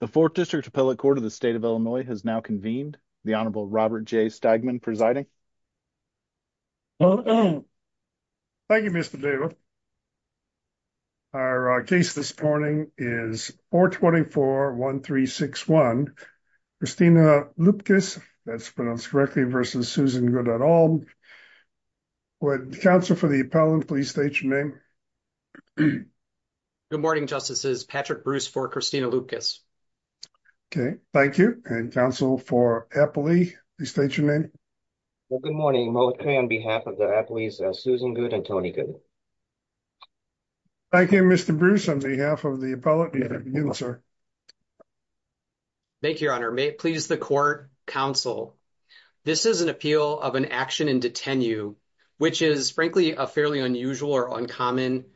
The 4th District Appellate Court of the State of Illinois has now convened. The Honorable Robert J. Stegman presiding. Thank you, Mr. David. Our case this morning is 424-1361. Christina Loepkes, that's pronounced correctly, versus Susan Goodall. Would the counsel for the appellant please state your name? Good morning, Justices. Patrick Bruce for Christina Loepkes. Okay, thank you. And counsel for appellee, please state your name. Well, good morning. Most on behalf of the appellees, Susan Good and Tony Good. Thank you, Mr. Bruce. On behalf of the appellate, good afternoon, sir. Thank you, Your Honor. May it please the court, counsel, this is an appeal of an action in which is, frankly, a fairly unusual or uncommon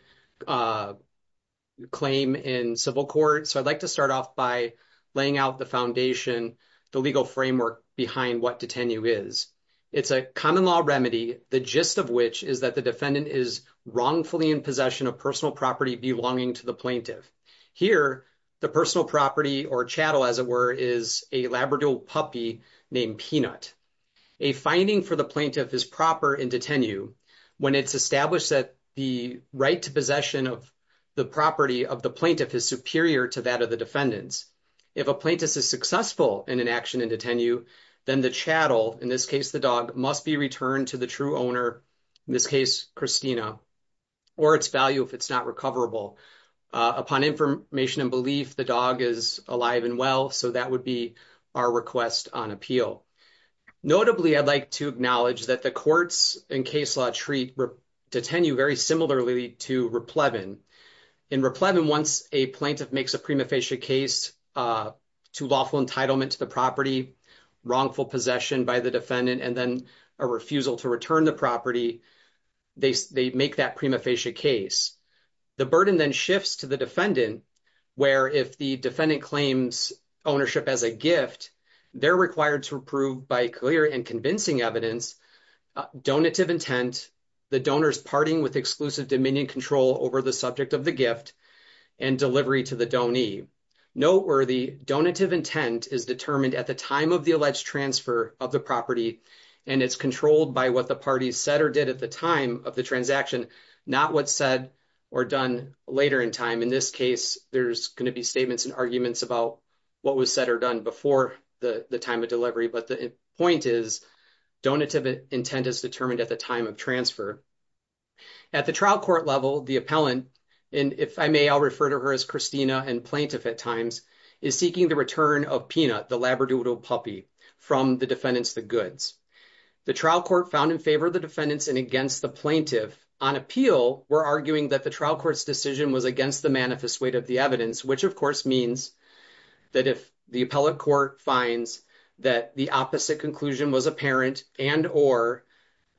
claim in civil court. So, I'd like to start off by laying out the foundation, the legal framework behind what detenue is. It's a common law remedy, the gist of which is that the defendant is wrongfully in possession of personal property belonging to the plaintiff. Here, the personal property or chattel, as it were, is a Labrador puppy named Peanut. A finding for the plaintiff is proper in detenue when it's established that the right to possession of the property of the plaintiff is superior to that of the defendants. If a plaintiff is successful in an action in detenue, then the chattel, in this case, the dog, must be returned to the true owner, in this case, Christina, or its value if it's not recoverable. Upon information and belief, the dog is alive and well, so that would be our request on appeal. Notably, I'd like to acknowledge that the courts in case law treat detenue very similarly to replevin. In replevin, once a plaintiff makes a prima facie case to lawful entitlement to the property, wrongful possession by the defendant, and then a refusal to return the property, they make that prima facie case. The burden then shifts to the defendant, where if the defendant claims ownership as a gift, they're required to approve by clear and convincing evidence, donative intent, the donor's parting with exclusive dominion control over the subject of the gift, and delivery to the donee. Noteworthy, donative intent is determined at the time of the alleged transfer of the property, and it's controlled by what the parties said or did at the time of the transaction, not what's said or done later in time. In this case, there's going to be statements and arguments about what was said or done before the time of delivery, but the point is donative intent is determined at the time of transfer. At the trial court level, the appellant, and if I may, I'll refer to her as Christina and plaintiff at times, is seeking the return of Peanut, the labradoodle puppy, from the defendants, the goods. The trial court found in favor of the defendants and against the plaintiff. On appeal, we're arguing that the trial court's decision was against the manifest weight of the evidence, which of course means that if the appellate court finds that the opposite conclusion was apparent and or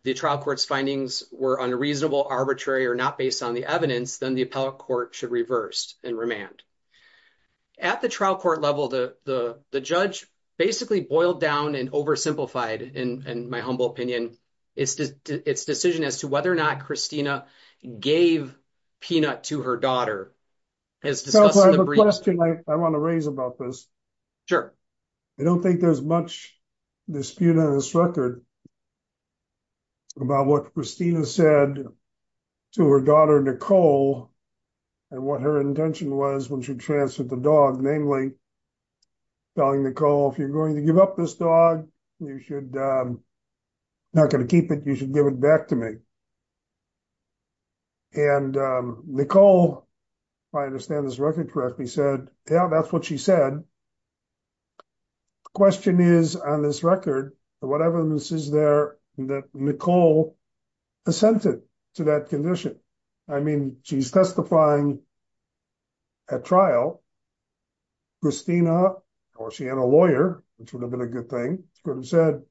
the trial court's findings were unreasonable, arbitrary, or not based on the evidence, then the appellate court should reverse and remand. At the trial court level, the judge basically boiled down and oversimplified, in my humble opinion, its decision as to whether or not Christina gave Peanut to her daughter. I want to raise about this. I don't think there's much dispute on this record about what Christina said to her daughter, Nicole, and what her intention was when she transferred the dog, namely telling Nicole, if you're going to give up this dog, you should, I'm not going to keep it, you should give it back to me. And Nicole, if I understand this record correctly, said, yeah, that's what she said. The question is, on this record, whatever this is there, that Nicole assented to that condition. I mean, she's testifying at trial. Christina, or she had a lawyer, which would have been a good thing, could have said,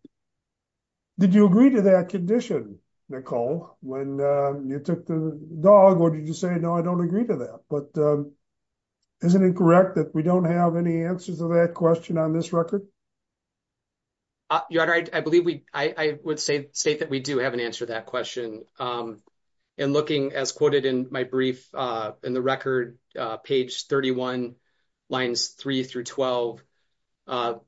did you agree to that condition, Nicole, when you took the dog, or did you say, no, I don't agree to that? But isn't it correct that we don't have any answers to that question on this record? Your Honor, I would state that we do have an answer to that question. And looking, as quoted in my brief, in the record, page 31, lines 3 through 12,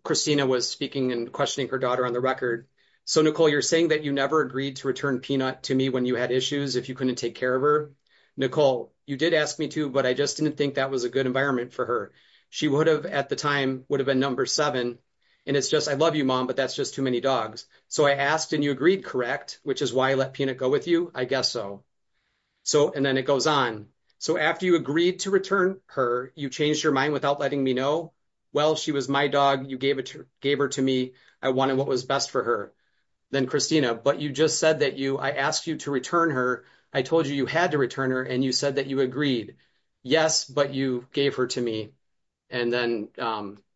Christina was speaking and questioning her daughter on the record. So, Nicole, you're saying that you never agreed to return Peanut to me when you had issues, if you couldn't take care of her. Nicole, you did ask me to, but I just didn't think that was a good environment for her. She would have, at the time, would have been number seven. And it's just, I love you, Mom, but that's just too many dogs. So, I asked and you agreed, correct, which is why I let Peanut go with you? I guess so. So, and then it goes on. So, after you agreed to return her, you changed your mind without letting me know? Well, she was my dog. You gave her to me. I wanted what was best for her. Then, Christina, but you just said that I asked you to return her. I told you you had to return her and you said that you agreed. Yes, but you gave her to me and then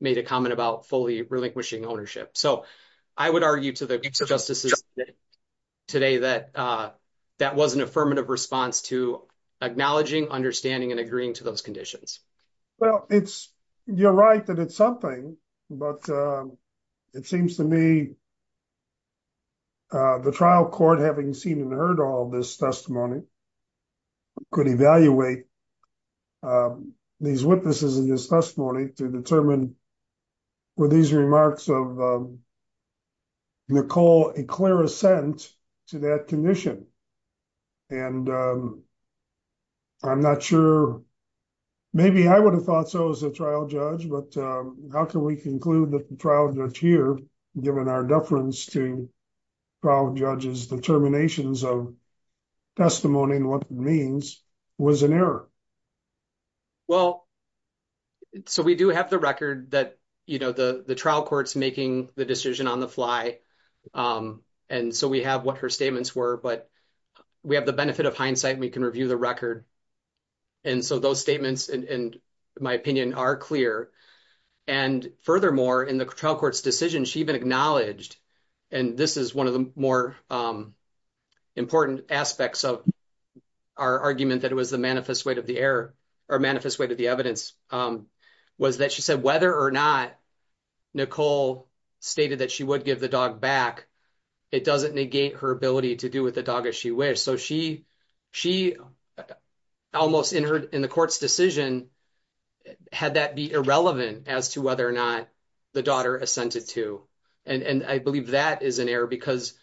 made a comment about fully relinquishing ownership. So, I would argue to the justice today that that was an affirmative response to acknowledging, understanding, and agreeing to those conditions. Well, it's, you're right that it's something, but it seems to me the trial court, having seen and heard all this testimony, could evaluate these witnesses in this testimony to determine were these remarks of Nicole a clear assent to that condition. And I'm not sure, maybe I would have thought so as a trial judge, but how can we conclude that the trial judge here, given our deference to trial judges' determinations of testimony and what it means, was an error? Well, so we do have the record that, you know, the trial court's making the decision on the fly. And so, we have what her statements were, but we have the benefit of hindsight. We can review the record. And so, those statements, in my opinion, are clear. And furthermore, in the trial court's decision, she even acknowledged, and this is one of the more important aspects of our argument that was the manifest weight of the error, or manifest weight of the evidence, was that she said whether or not Nicole stated that she would give the dog back, it doesn't negate her ability to do with the dog as she wished. So, she almost, in the court's decision, had that be irrelevant as to whether or not the daughter assented to. And I believe that is an error because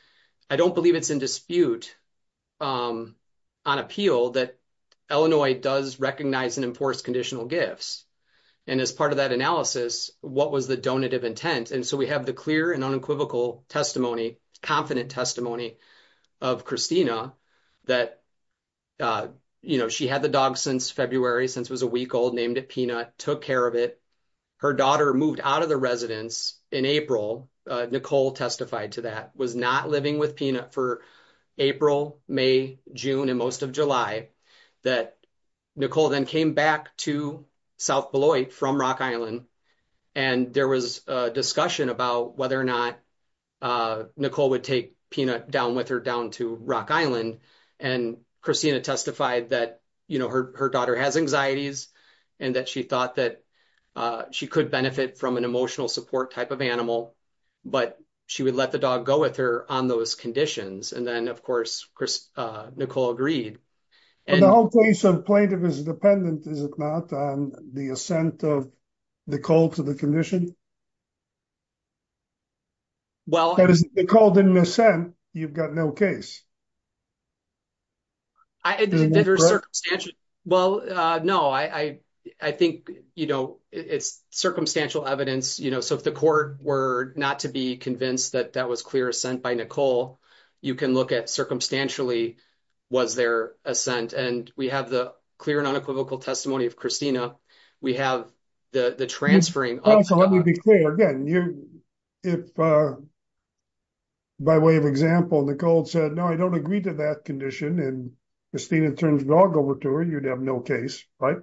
I don't believe it's in dispute on appeal that Illinois does recognize and enforce conditional gifts. And as part of that analysis, what was the donative intent? And so, we have the clear and unequivocal testimony, confident testimony of Christina that, you know, she had the dog since February, since it was a week old, named it Peanut, took care of it. Her daughter moved out of the residence in April. Nicole testified to that, was not living with Peanut for April, May, June, and most of July. That Nicole then came back to South Beloit from Rock Island, and there was a discussion about whether or not Nicole would take Peanut down with her down to Rock Island. And Christina testified that, you know, her daughter has anxieties, and that she thought that she could benefit from an emotional support type of animal, but she would let the dog go with her on those conditions. And then, of course, Nicole agreed. And the whole case of plaintiff is dependent, is it not, on the assent of Nicole to the condition? Well, Nicole didn't assent, you've got no case. I think, you know, it's circumstantial evidence, you know, so if the court were not to be convinced that that was clear assent by Nicole, you can look at circumstantially, was there assent? And we have the clear and unequivocal testimony of Christina. We have the transferring. So let me be clear, again, if by way of example, Nicole said, no, I don't agree to that condition, and Christina turns the dog over to her, you'd have no case, right?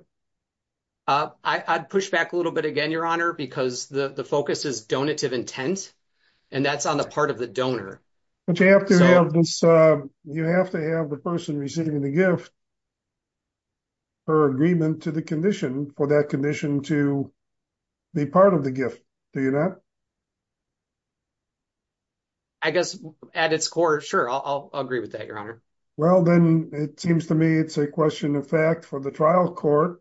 I'd push back a little bit again, Your Honor, because the focus is donative intent, and that's on the part of the donor. You have to have the person receiving the gift, her agreement to the condition, for that condition to be part of the gift, do you not? I guess at its core, sure, I'll agree with that, Your Honor. Well, then it seems to me it's a question of fact for the trial court,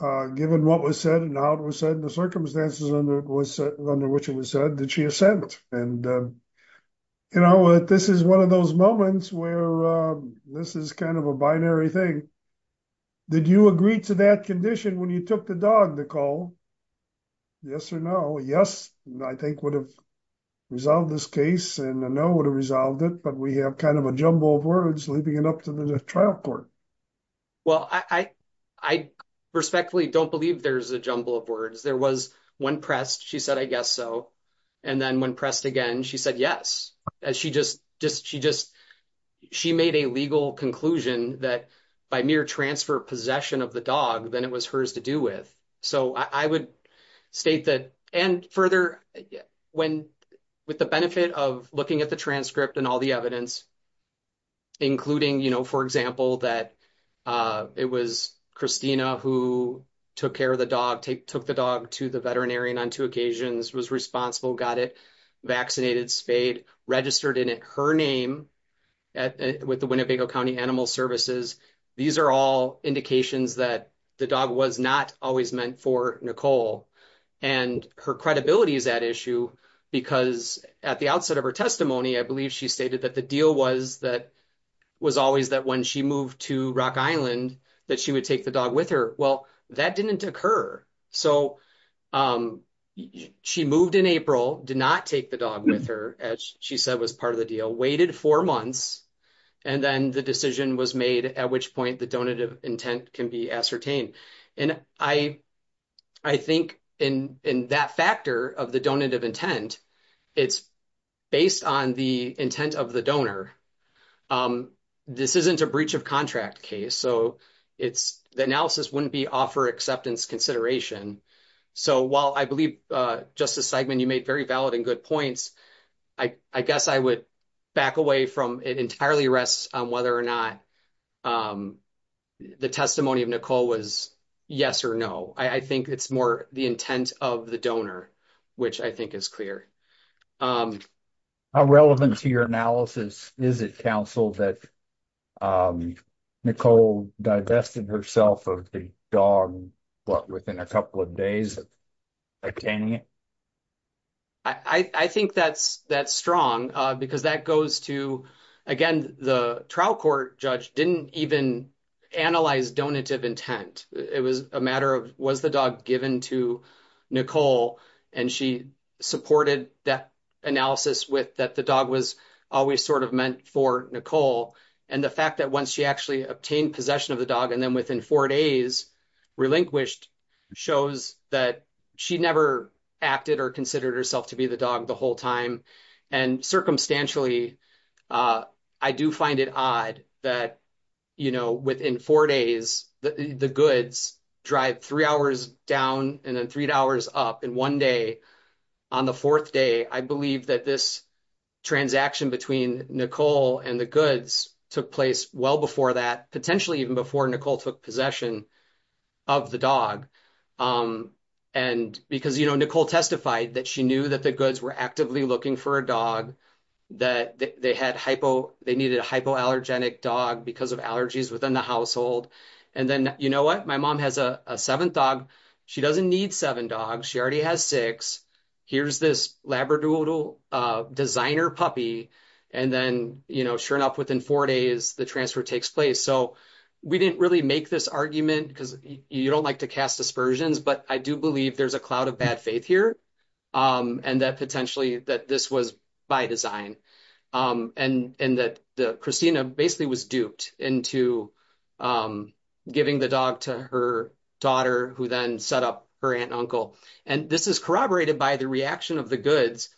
given what was said and how it was said, the circumstances under which it was said that she assent. And, you know, this is one of those moments where this is kind of a binary thing. Did you agree to that condition when you took the dog, Nicole? Yes or no? Yes, I think would have resolved this case, and no would have resolved it, but we have kind of a jumble of words leaving it up to the trial court. Well, I respectfully don't believe there's a jumble of words. There was one pressed, she said, I guess so, and then when pressed again, she said yes. She made a legal conclusion that by mere transfer possession of the dog, then it was hers to do with. So I would state that, and further, with the benefit of looking at the transcript and all the evidence, including, you know, for example, that it was Christina who took care of the dog, took the dog to the veterinarian on two occasions, was responsible, got it vaccinated, spayed, registered in her name with the Winnebago County Animal Services. These are all indications that the dog was not always meant for Nicole. And her credibility is at issue because at the outset of her testimony, I believe she stated that the deal was that was always that when she moved to Rock Island, that she would take the dog with her. Well, that didn't occur. So she moved in April, did not take the dog with her, as she said was part of the deal, waited four months, and then the decision was made, at which point the donative intent can be ascertained. And I think in that factor of the intent of the donor, this isn't a breach of contract case. So it's the analysis wouldn't be offer acceptance consideration. So while I believe, Justice Seidman, you made very valid and good points, I guess I would back away from it entirely rests on whether or not the testimony of Nicole was yes or no. I think it's more the intent of the donor, which I think is clear. How relevant to your analysis is it, counsel, that Nicole divested herself of the dog within a couple of days of obtaining it? I think that's strong because that goes to, again, the trial court judge didn't even analyze donative intent. It was a matter of, was the dog given to Nicole? And she supported that analysis that the dog was always sort of meant for Nicole. And the fact that once she actually obtained possession of the dog, and then within four days relinquished shows that she never acted or considered herself to be the dog the whole time. And circumstantially, I do find it odd that, you know, within four days, the goods drive three hours down and then three hours up. And one day, on the fourth day, I believe that this transaction between Nicole and the goods took place well before that, potentially even before Nicole took possession of the dog. And because, you know, Nicole testified that she knew that the goods were actively looking for a dog, that they had hypo, they needed a hypoallergenic dog because of allergies within the household. And then, you know what, my mom has a seventh dog. She doesn't need seven dogs. She already has six. Here's this Labradoodle designer puppy. And then, you know, sure enough, within four days, the transfer takes place. So we didn't really make this argument because you don't like to cast aspersions, but I do believe there's a cloud of bad faith here. And that potentially that this was by design. And that Christina basically was duped into giving the dog to her daughter, who then set up her aunt and uncle. And this is corroborated by the reaction of the goods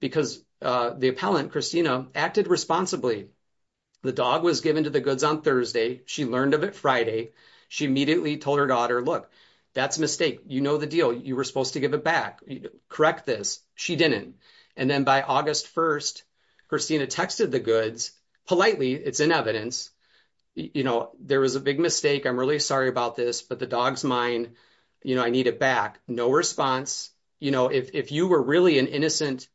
because the appellant, Christina, acted responsibly. The dog was given to the goods on Thursday. She learned of it Friday. She immediately told her daughter, look, that's a mistake. You know the deal. You were supposed to correct this. She didn't. And then by August 1st, Christina texted the goods. Politely, it's in evidence. You know, there was a big mistake. I'm really sorry about this, but the dog's mine. You know, I need it back. No response. You know, if you were really an innocent,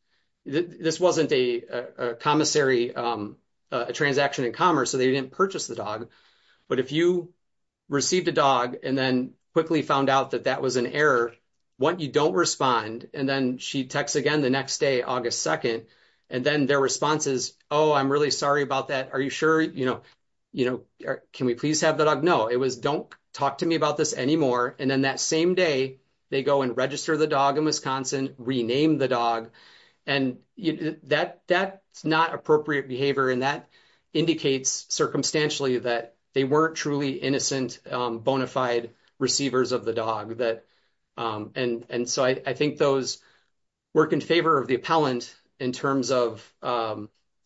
this wasn't a commissary, a transaction in commerce, so they didn't purchase the dog. But if you received a dog and then quickly found out that that was an error, what you don't respond. And then she texts again the next day, August 2nd. And then their response is, oh, I'm really sorry about that. Are you sure? You know, you know, can we please have the dog? No. It was, don't talk to me about this anymore. And then that same day, they go and register the dog in Wisconsin, rename the dog. And that's not appropriate behavior. And that indicates circumstantially that they weren't truly innocent, bona fide receivers of the dog. And so I think those work in favor of the appellant in terms of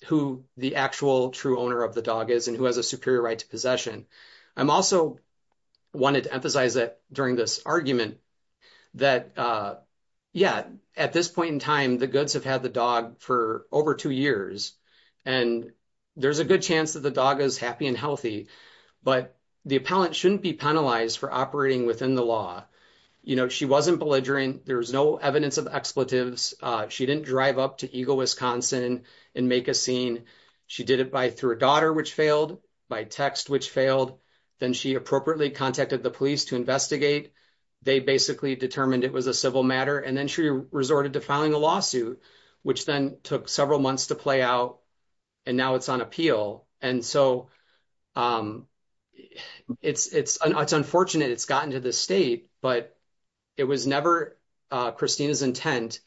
who the actual true owner of the dog is and who has a superior right to possession. I'm also wanted to emphasize that during this argument that, yeah, at this point in time, the goods have had the dog for over two years. And there's a good chance that the dog is happy and healthy, but the appellant shouldn't be penalized for operating within the law. You know, she wasn't belligerent. There was no evidence of expletives. She didn't drive up to Eagle, Wisconsin and make a scene. She did it by through a daughter, which failed by text, which failed. Then she appropriately contacted the police to investigate. They basically determined it was a civil matter. And then she resorted to filing a lawsuit, which then took several months to play out. And now it's on appeal. And so it's unfortunate it's gotten to this state, but it was never Christina's intent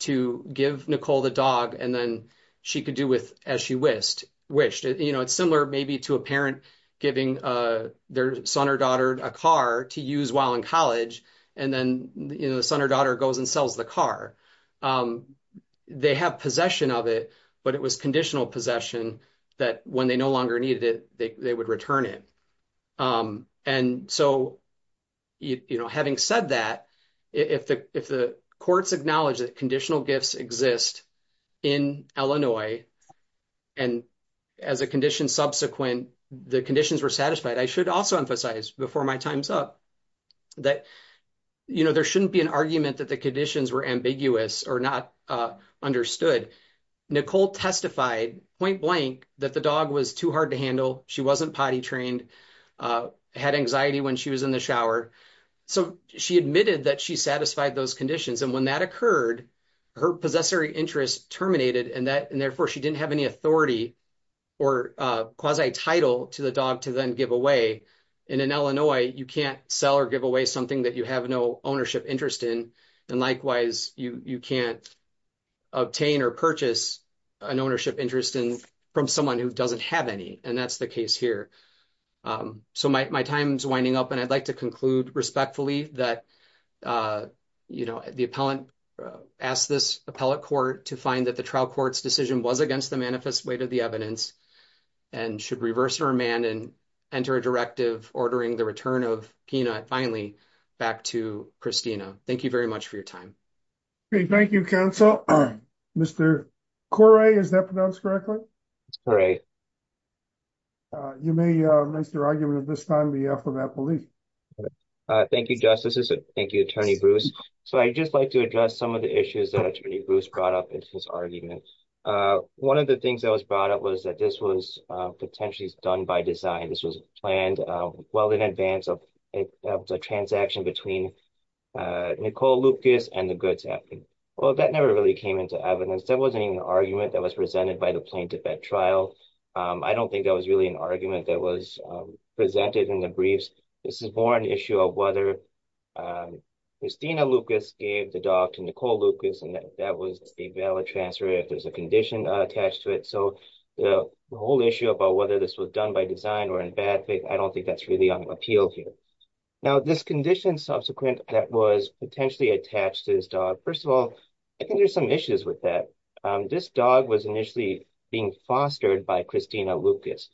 to give Nicole the dog and then she could do with as she wished. You know, it's similar maybe to a parent giving their son or daughter a car to use while in college. And then the son or daughter goes sells the car. They have possession of it, but it was conditional possession that when they no longer needed it, they would return it. And so, you know, having said that, if the courts acknowledge that conditional gifts exist in Illinois and as a condition subsequent, the conditions were satisfied, I should also emphasize before my time's up that, you know, there shouldn't be an argument that the conditions were ambiguous or not understood. Nicole testified point blank that the dog was too hard to handle. She wasn't potty trained, had anxiety when she was in the shower. So she admitted that she satisfied those conditions. And when that occurred, her possessory interest terminated and therefore she didn't have any authority or quasi title to the dog to then give away. And in Illinois, you can't sell or give away something that you have no ownership interest in. And likewise, you can't obtain or purchase an ownership interest in from someone who doesn't have any. And that's the case here. So my time's winding up. And I'd like to conclude respectfully that, you know, the appellant asked this appellate court to find that the trial court's decision was against the manifest weight of the evidence and should reverse her man and enter a directive ordering the return of finally back to Christina. Thank you very much for your time. Great. Thank you, counsel. Mr. Corey, is that pronounced correctly? You may miss your argument at this time, the affidavit. Thank you, justices. Thank you, Attorney Bruce. So I'd just like to address some of the issues that Attorney Bruce brought up in his argument. One of the things that was brought up was that this was potentially done by design. This was planned well in advance of the transaction between Nicole Lucas and the goods happening. Well, that never really came into evidence. That wasn't even an argument that was presented by the plaintiff at trial. I don't think that was really an argument that was presented in the briefs. This is more an issue of whether Christina Lucas gave the dog to Nicole Lucas, and that was a valid transfer if there's a condition attached to it. The whole issue about whether this was done by design or in bad faith, I don't think that's really on appeal here. Now, this condition subsequent that was potentially attached to this dog, first of all, I think there's some issues with that. This dog was initially being fostered by Christina Lucas.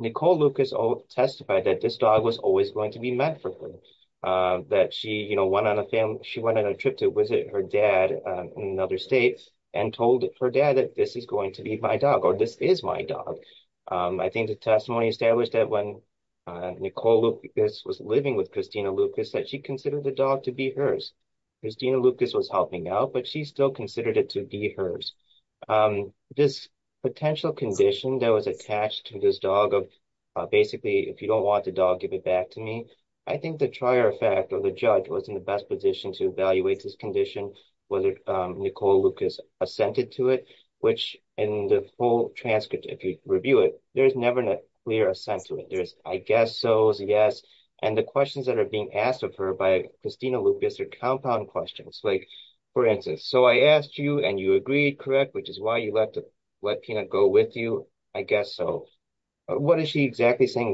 Nicole Lucas testified that this dog was always going to be met for her, that she went on a trip to visit her dad in another state and told her dad that this is going to be my dog or this is my dog. I think the testimony established that when Nicole Lucas was living with Christina Lucas, that she considered the dog to be hers. Christina Lucas was helping out, but she still considered it to be hers. This potential condition that was attached to this dog of basically, if you don't want the dog, give it back to me. I think the trier effect or the judge was in the best position to evaluate this condition, whether Nicole Lucas assented to it, which in the full transcript, if you review it, there's never a clear assent to it. There's, I guess so's, yes, and the questions that are being asked of her by Christina Lucas are compound questions. For instance, so I asked you and you agreed, correct, which is why you let Peanut go with you, I guess so. What is she exactly saying,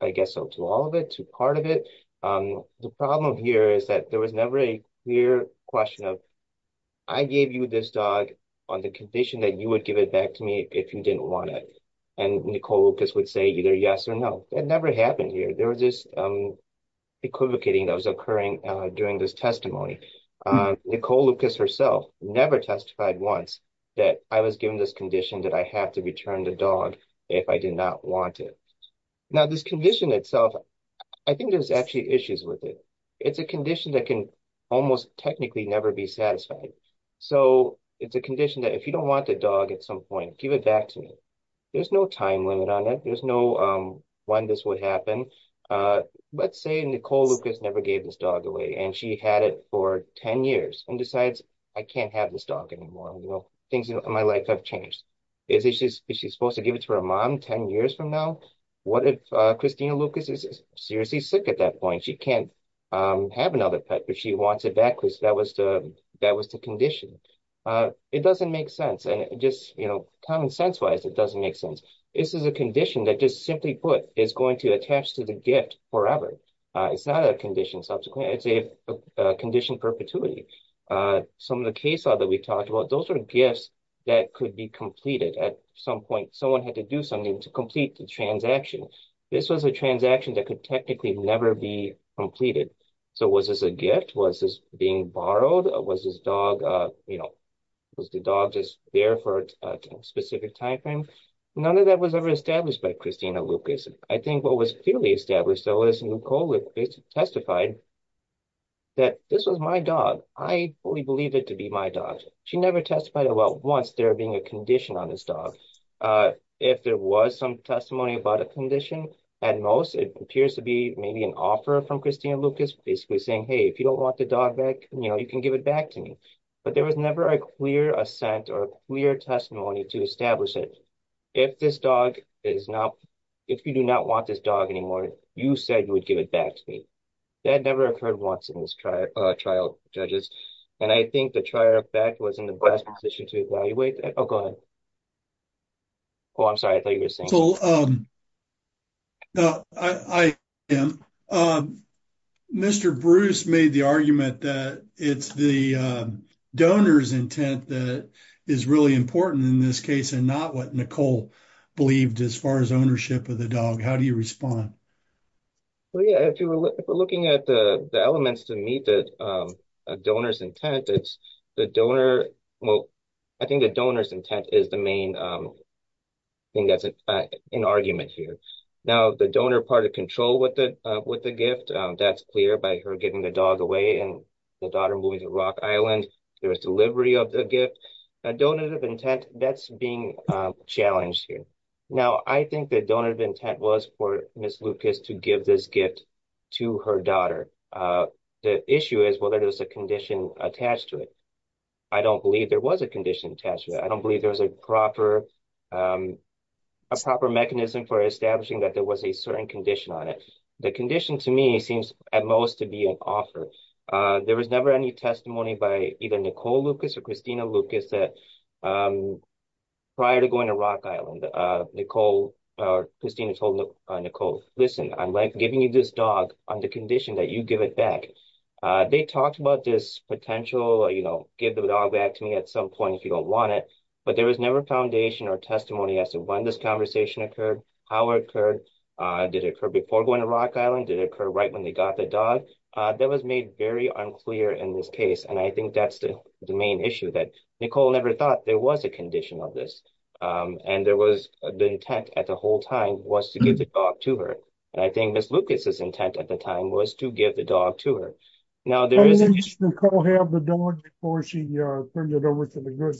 I guess so to all of it, to part of it. The problem here is that there was never a clear question of, I gave you this dog on the condition that you would give it back to me if you didn't want it. And Nicole Lucas would say either yes or no. That never happened here. There was this equivocating that was occurring during this testimony. Nicole Lucas herself never testified once that I was given this condition that I have to return the dog if I did not want it. Now this condition itself, I think there's actually issues with it. It's a condition that can almost technically never be satisfied. So it's a condition that if you don't want the dog at some point, give it back to me. There's no time limit on it. There's no when this would happen. Let's say Nicole Lucas never gave this dog away and she had it for 10 years and decides I can't have this dog anymore. Things in my life have changed. Is she supposed to give it to her mom 10 years from now? What if Christina Lucas is seriously sick at that point? She can't have another pet, but she wants it back because that was the condition. It doesn't make sense. Common sense-wise, it doesn't make sense. This is a condition that just simply put is going to attach to the gift forever. It's not a condition subsequently. It's a condition perpetuity. Some of the case law that we talked about, those are gifts that could be completed at some point. Someone had to do something to complete the transaction. This was a transaction that could technically never be completed. So was this a gift? Was this being borrowed? Was the dog just there for a specific time frame? None of that was ever established by Christina Lucas. I think what was clearly established, though, is Nicole Lucas testified that this was my dog. I fully believed it to be my dog. She never testified about once there being a condition on this dog. If there was some testimony about a condition, at most, it appears to be maybe an offer from Christina Lucas basically saying, hey, if you don't want the dog back, you know, you can give it back to me. But there was never a clear assent or clear testimony to establish it. If this dog is not, if you do not want this dog anymore, you said you would give it back to me. That never occurred once in this trial, judges. And I think the trial was in the best position to evaluate. Oh, go ahead. Oh, I'm sorry. I thought you were saying. No, I am. Mr. Bruce made the argument that it's the donor's intent that is really important in this case and not what Nicole believed as far as ownership of the dog. How do you respond? Well, yeah, if you were looking at the elements to meet the donor's intent, it's the donor. Well, I think the donor's intent is the main thing that's in argument here. Now, the donor part of control with the gift, that's clear by her giving the dog away and the daughter moving to Rock Island. There was delivery of the gift. A donor's intent, that's being challenged here. Now, I think the donor's intent was for Ms. Lucas to give this gift to her daughter. The issue is a condition attached to it. I don't believe there was a condition attached to it. I don't believe there was a proper mechanism for establishing that there was a certain condition on it. The condition to me seems at most to be an offer. There was never any testimony by either Nicole Lucas or Christina Lucas prior to going to Rock Island. Christina told Nicole, listen, I'm giving you this dog on the condition that you give it back. They talked about this potential, give the dog back to me at some point if you don't want it, but there was never foundation or testimony as to when this conversation occurred, how it occurred, did it occur before going to Rock Island, did it occur right when they got the dog. That was made very unclear in this case. I think that's the main issue that Nicole never thought there was a condition of this. And there was the intent at the whole time was to give the dog to her. And I think Ms. Lucas' intent at the time was to give the dog to her. Now, there is... Didn't Nicole have the dog before she turned it over to the group?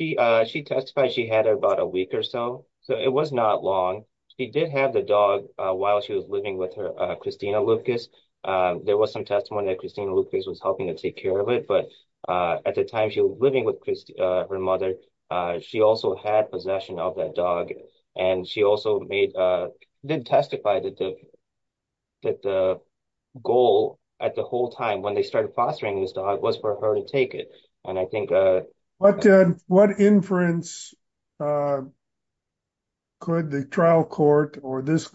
She testified she had it about a week or so. So, it was not long. She did have the dog while she was living with her Christina Lucas. There was some testimony that Christina Lucas was helping take care of it. But at the time she was living with her mother, she also had possession of that dog. And she also did testify that the goal at the whole time when they started fostering this dog was for her to take it. And I think... What inference could the trial court or this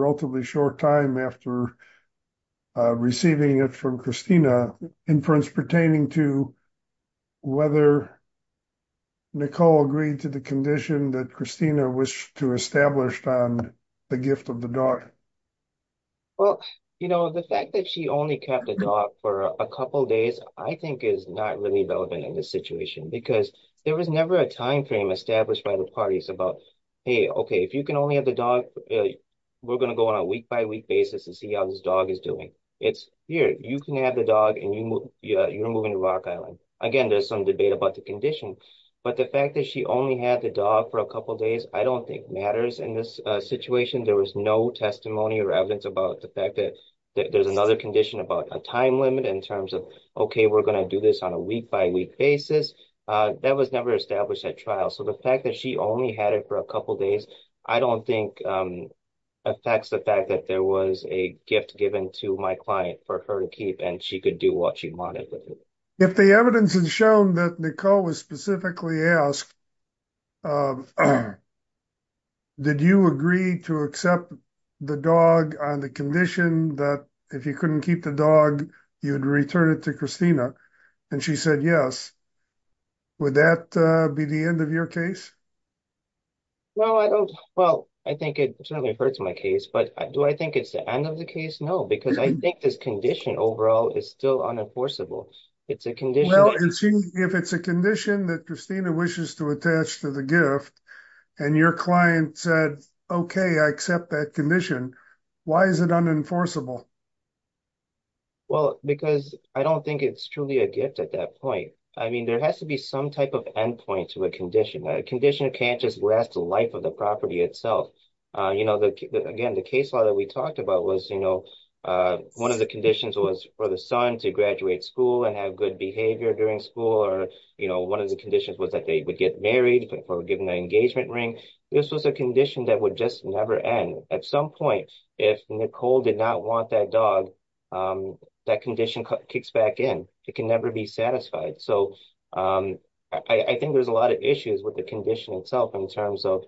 relatively short time after receiving it from Christina, inference pertaining to whether Nicole agreed to the condition that Christina was to establish on the gift of the dog? Well, you know, the fact that she only kept the dog for a couple days, I think is not really relevant in this situation. Because there was never a time frame established by the parties about, hey, okay, if you can only have the dog, we're going to go on a week-by-week basis and see how this dog is doing. It's here. You can have the dog and you're moving to Rock Island. Again, there's some debate about the condition. But the fact that she only had the dog for a couple days, I don't think matters in this situation. There was no testimony or evidence about the fact that there's another condition about a time limit in terms of, okay, we're going to do this on a week-by-week basis. That was never established at trial. So the fact that she only had it for a couple days, I don't think affects the fact that there was a gift given to my client for her to keep and she could do what she wanted with it. If the evidence has shown that Nicole was specifically asked, did you agree to accept the dog on the condition that if you couldn't keep the dog, you'd return it to Christina? And she said, yes. Would that be the end of your case? No, I don't. Well, I think it certainly refers to my case, but do I think it's the end of the case? No, because I think this condition overall is still unenforceable. It's a condition- Well, if it's a condition that Christina wishes to attach to the gift and your client said, okay, I accept that condition, why is it unenforceable? Well, because I don't think it's truly a gift at that point. I mean, there has to be some type of end point to a condition. A condition can't just last the life of the property itself. Again, the case law that we talked about was one of the conditions was for the son to graduate school and have good behavior during school, or one of the conditions was that they would get married for giving the engagement ring. This was a condition that would just never end. At some point, that condition kicks back in. It can never be satisfied. So I think there's a lot of issues with the condition itself in terms of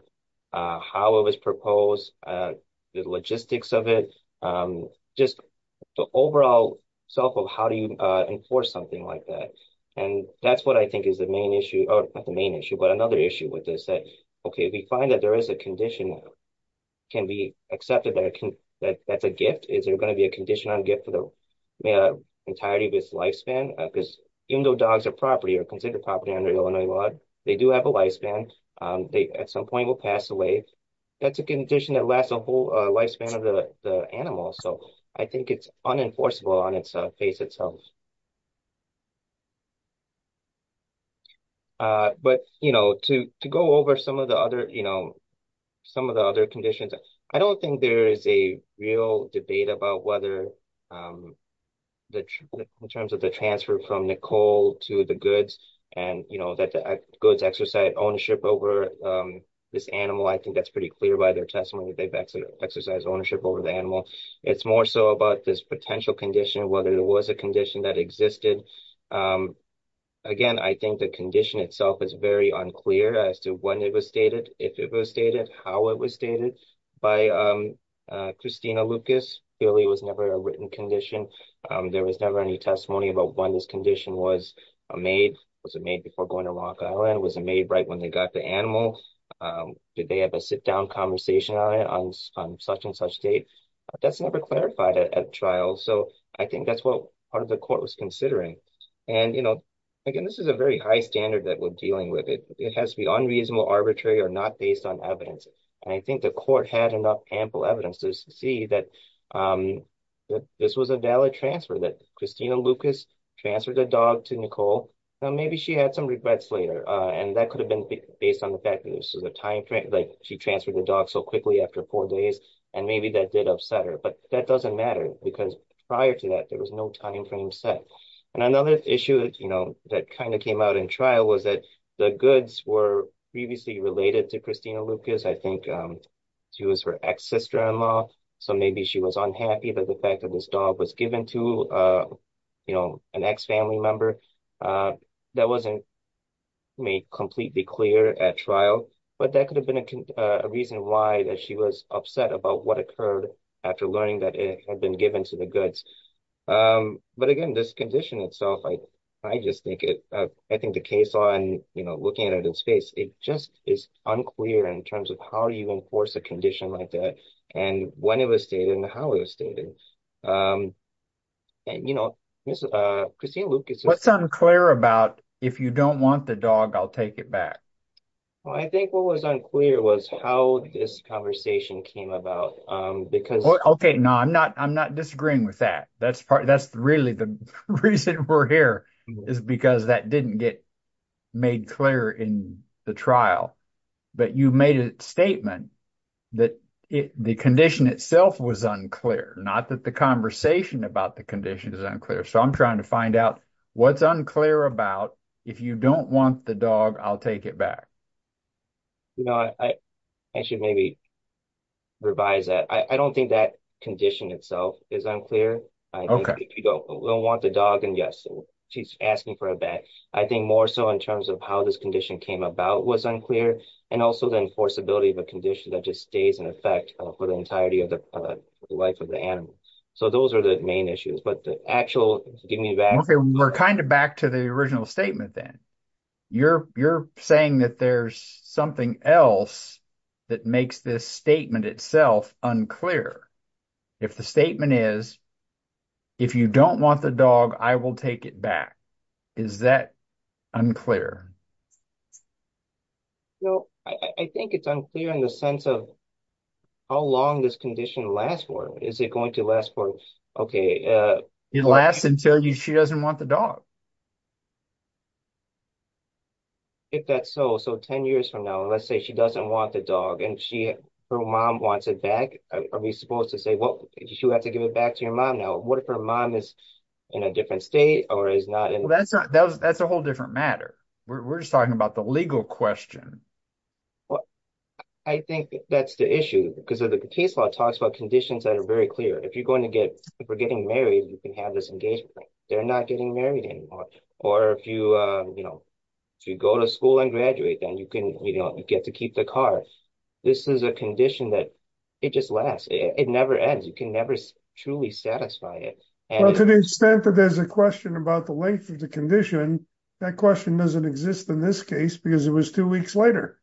how it was proposed, the logistics of it, just the overall self of how do you enforce something like that. And that's what I think is the main issue, or not the main issue, but another issue with this. Okay, we find that there is a condition can be accepted that that's a gift. Is there going to be a condition on gift for the entirety of its lifespan? Because even though dogs are considered property under Illinois law, they do have a lifespan. They at some point will pass away. That's a condition that lasts a whole lifespan of the animal. So I think it's unenforceable on its face itself. But to go over some of the other conditions, I don't think there is a real debate about whether in terms of the transfer from Nicole to the goods, and that the goods exercise ownership over this animal. I think that's pretty clear by their testimony that they've exercised ownership over the animal. It's more so about this potential condition, whether it was a condition that existed. Again, I think the condition itself is very unclear as to when it was stated, if it was stated, how it was stated by Christina Lucas. Clearly, it was never a written condition. There was never any testimony about when this condition was made. Was it made before going to Rock Island? Was it made right when they got the animal? Did they have a sit down conversation on such and such date? That's never clarified at trial. So I think that's what part of the court was considering. And again, this is a very high standard that we're dealing with. It has to be unreasonable, arbitrary, or not based on evidence. And I think the court had enough ample evidence to see that this was a valid transfer that Christina Lucas transferred the dog to Nicole. Now, maybe she had some regrets later. And that could have been based on the fact that she transferred the quickly after four days. And maybe that did upset her. But that doesn't matter because prior to that, there was no time frame set. And another issue that kind of came out in trial was that the goods were previously related to Christina Lucas. I think she was her ex-sister-in-law. So maybe she was unhappy that the fact that this dog was given to an ex-family member. That wasn't made completely clear at trial. But that could have been a reason why that she was upset about what occurred after learning that it had been given to the goods. But again, this condition itself, I just think it, I think the case on looking at it in space, it just is unclear in terms of how you enforce a condition like that and when it was stated and how it was stated. And, you know, Christina Lucas... What's unclear about if you don't want the dog, I'll take it back. Well, I think what was unclear was how this conversation came about because... Okay. No, I'm not disagreeing with that. That's really the reason we're here is because that didn't get made clear in the trial. But you made a statement that the condition itself was unclear, not that the conversation about the condition is unclear. So I'm trying to find out what's unclear about if you don't want the dog, I'll take it back. You know, I should maybe revise that. I don't think that condition itself is unclear. Okay. If you don't want the dog, then yes, she's asking for a bet. I think more so in terms of how this condition came about was unclear and also the enforceability of a condition that just stays in the life of the animal. So those are the main issues. But the actual... Okay, we're kind of back to the original statement then. You're saying that there's something else that makes this statement itself unclear. If the statement is, if you don't want the dog, I will take it back. Is that unclear? No, I think it's unclear in the sense of how long this condition lasts for. Is it going to last for, okay... It lasts until she doesn't want the dog. If that's so, so 10 years from now, let's say she doesn't want the dog and her mom wants it back, are we supposed to say, well, she'll have to give it back to your mom now. What if her mom is in a different state or is not in... That's a whole different matter. We're just talking about the legal question. I think that's the issue because the case law talks about conditions that are very clear. If you're going to get, if we're getting married, you can have this engagement. They're not getting married anymore. Or if you go to school and graduate, then you get to keep the car. This is a condition that it just lasts. It never ends. You can never truly satisfy it. To the extent that there's a question about the length of the condition, that question doesn't exist in this case because it was two weeks later.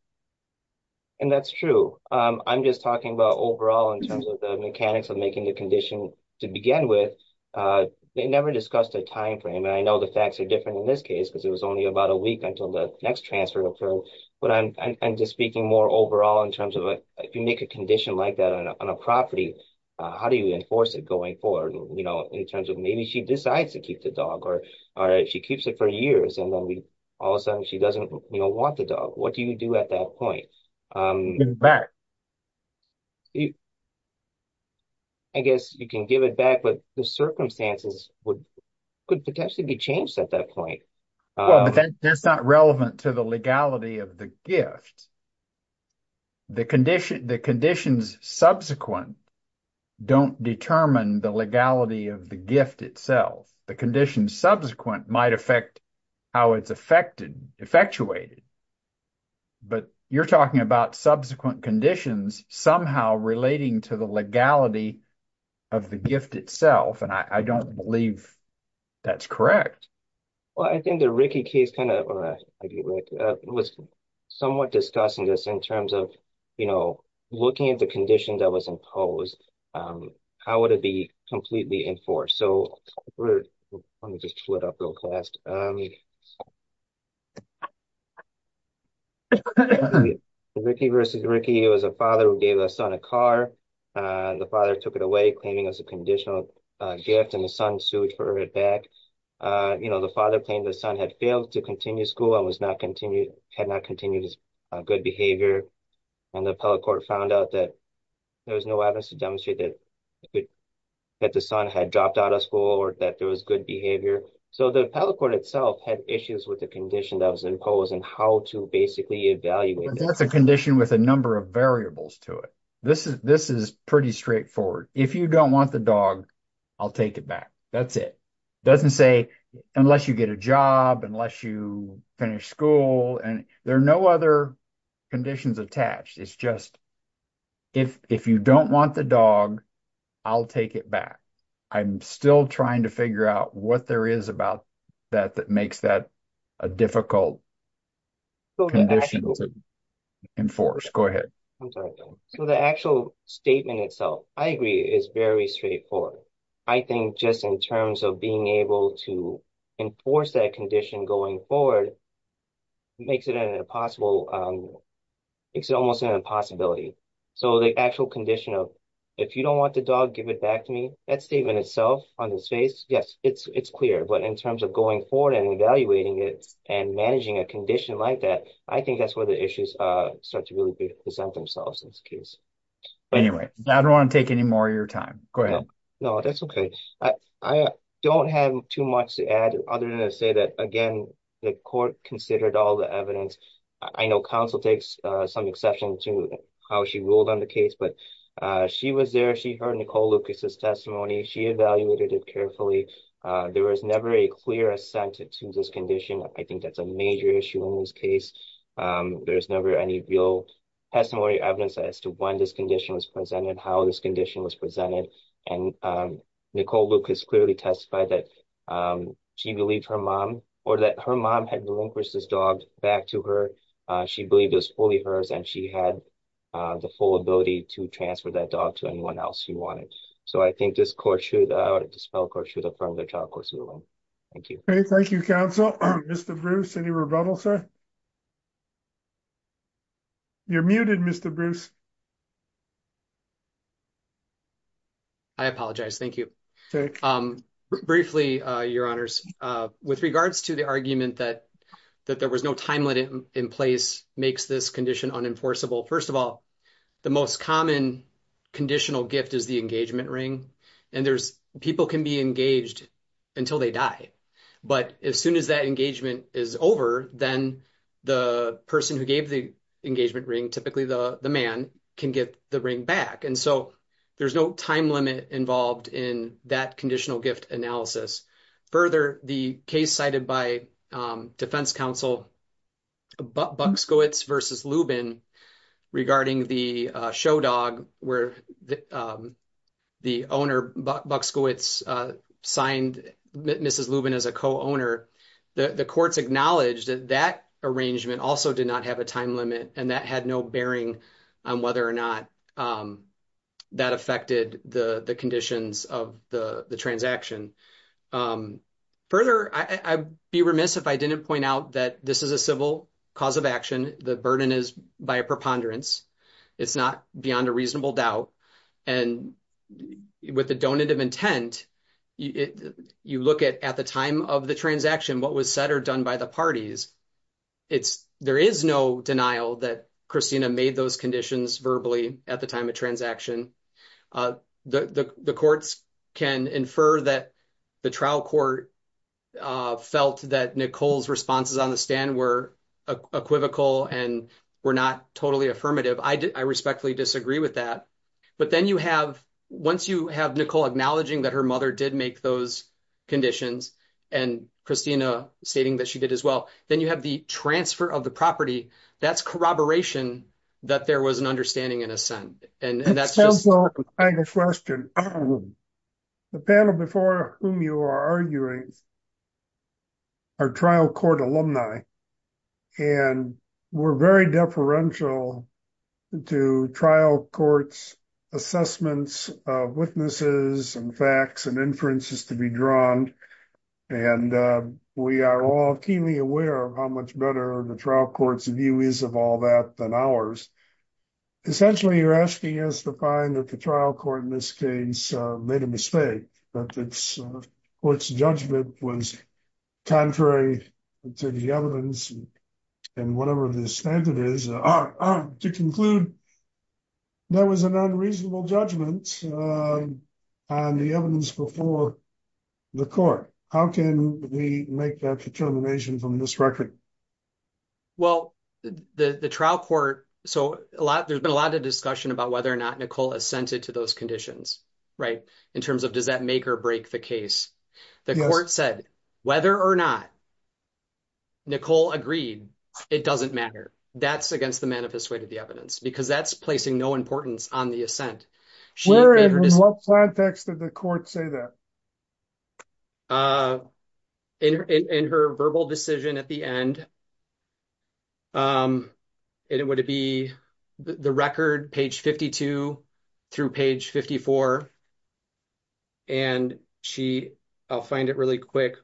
And that's true. I'm just talking about overall in terms of the mechanics of making the condition to begin with. They never discussed a timeframe. And I know the facts are different in this case, because it was only about a week until the next transfer to approve. But I'm just speaking more overall in terms of if you make a condition like that on a property, how do you enforce it going forward? In terms of maybe she decides to keep the dog or she keeps it for years and then all of a sudden she doesn't want the dog. What do you do at that point? I guess you can give it back, but the circumstances could potentially be changed at that point. But that's not relevant to the legality of the gift. The conditions subsequent don't determine the legality of the gift itself. The condition subsequent might affect how it's effectuated. But you're talking about subsequent conditions somehow relating to the legality of the gift itself, and I don't believe that's correct. Well, I think the Rickey case was somewhat discussing this in terms of looking at the how would it be completely enforced? So let me just pull it up real fast. Rickey versus Rickey, it was a father who gave the son a car. The father took it away, claiming it was a conditional gift and the son sued for it back. The father claimed the son had failed to continue school and had not continued his good behavior. And the appellate court found out that there was no evidence to demonstrate that the son had dropped out of school or that there was good behavior. So the appellate court itself had issues with the condition that was imposed and how to basically evaluate that. That's a condition with a number of variables to it. This is pretty straightforward. If you don't want the dog, I'll take it back. That's it. It doesn't say unless you get a job, unless you finish school, and there are no other conditions attached. It's just if you don't want the dog, I'll take it back. I'm still trying to figure out what there is about that that makes that a difficult condition to enforce. Go ahead. I'm sorry. So the actual statement itself, I agree, is very straightforward. I think just in terms of being able to enforce that condition going forward makes it almost an impossibility. So the actual condition of if you don't want the dog, give it back to me, that statement itself on its face, yes, it's clear. But in terms of going forward and evaluating it and managing a condition like that, I think that's where the issues start to really present themselves in this case. Anyway, I don't want to take any more of your time. Go ahead. No, that's okay. I don't have too much to add other than to say that, again, the court considered all the evidence. I know counsel takes some exception to how she ruled on the case, but she was there. She heard Nicole Lucas's testimony. She evaluated it carefully. There was never a clear assent to this condition. I think that's a major issue in this case. There's never any real testimony evidence as to when this condition was presented, how this condition was presented, and Nicole Lucas clearly testified that she believed her mom or that her mom had relinquished this dog back to her. She believed it was fully hers and she had the full ability to transfer that dog to anyone else who wanted. So I think this court should, this federal court should affirm the child court's ruling. Thank you. Okay, thank you, counsel. Mr. Bruce, any rebuttal, sir? You're muted, Mr. Bruce. I apologize. Thank you. Briefly, Your Honors, with regards to the argument that there was no timeline in place makes this condition unenforceable. First of all, the most common conditional gift is the engagement ring. People can be engaged until they die, but as soon as that engagement is over, then the person who gave the engagement ring, typically the man, can get the ring back. And so there's no time limit involved in that conditional gift analysis. Further, the case cited by Defense Counsel Buxkowitz v. Lubin regarding the show dog where the owner, Buxkowitz, signed Mrs. Lubin as a co-owner, the courts acknowledged that that arrangement also did not have a time limit, and that had no bearing on whether or not that affected the conditions of the transaction. Further, I'd be remiss if I didn't point out that this is a civil cause of action. The burden is by a preponderance. It's not beyond a reasonable doubt. And with the donative intent, you look at the time of the transaction, what was said or done by the parties. There is no denial that Christina made those conditions verbally at the time of transaction. The courts can infer that the trial court felt that Nicole's responses on the stand were equivocal and were not totally affirmative. I respectfully disagree with that. But then you have, once you have Nicole acknowledging that her mother did make those conditions, and Christina stating that she did as well, then you have the transfer of the property. That's corroboration that there was an understanding in a sense. And that's just- It sounds like a fine question. The panel before whom you are arguing are trial court alumni, and we're very deferential to trial courts' assessments of witnesses and facts and inferences to be drawn. And we are all keenly aware of how much better the trial court's view is of all that than ours. Essentially, you're asking us to find that the trial court in this case made a mistake, that its judgment was contrary to the evidence and whatever the standard is. To conclude, there was an unreasonable judgment on the evidence before the court. How can we make that determination from this record? Well, the trial court, so there's been a lot of discussion about whether or not Nicole assented to those conditions, right? In terms of does that make or break the case? The court said whether or not Nicole agreed, it doesn't matter. That's against the manifest way to the evidence, because that's placing no importance on the assent. Where and in what context did the court say that? In her verbal decision at the end, and it would be the record page 52 through page 54, and I'll find it really quick.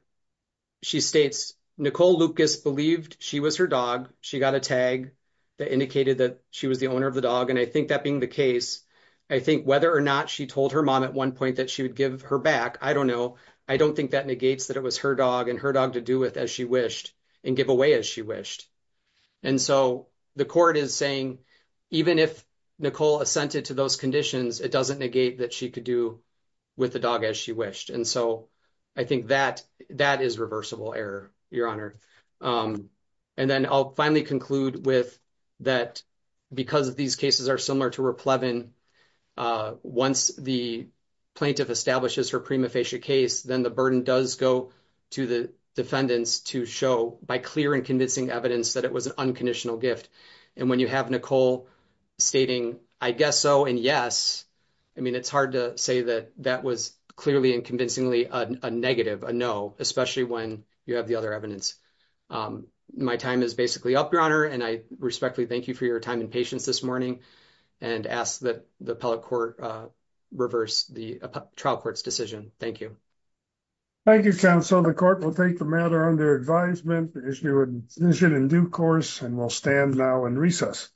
She states, Nicole Lucas believed she was her dog. She got a tag that indicated that she was the owner of the dog. And I think that being the case, I think whether or not she told her mom at one point that she would give her back, I don't know. I don't think that negates that it was her dog and her dog to do with as she wished and give away as she wished. And so the court is saying, even if Nicole assented to those conditions, it doesn't negate that she could do with the dog as she wished. And so I think that is reversible error, Your Honor. And then I'll finally conclude with that, because these cases are similar to Replevin, once the plaintiff establishes her prima facie case, then the burden does go to the defendants to show by clear and convincing evidence that it was an unconditional gift. And when you have Nicole stating, I guess so, and yes, I mean, it's hard to say that that was clearly and convincingly a negative, a no, especially when you have the other evidence. My time is basically up, Your Honor, and I respectfully thank you for your time and patience this morning, and ask that the appellate court reverse the trial court's decision. Thank you. Thank you, counsel. The court will take the matter under advisement, as you would envision in due course, and we'll stand now and recess.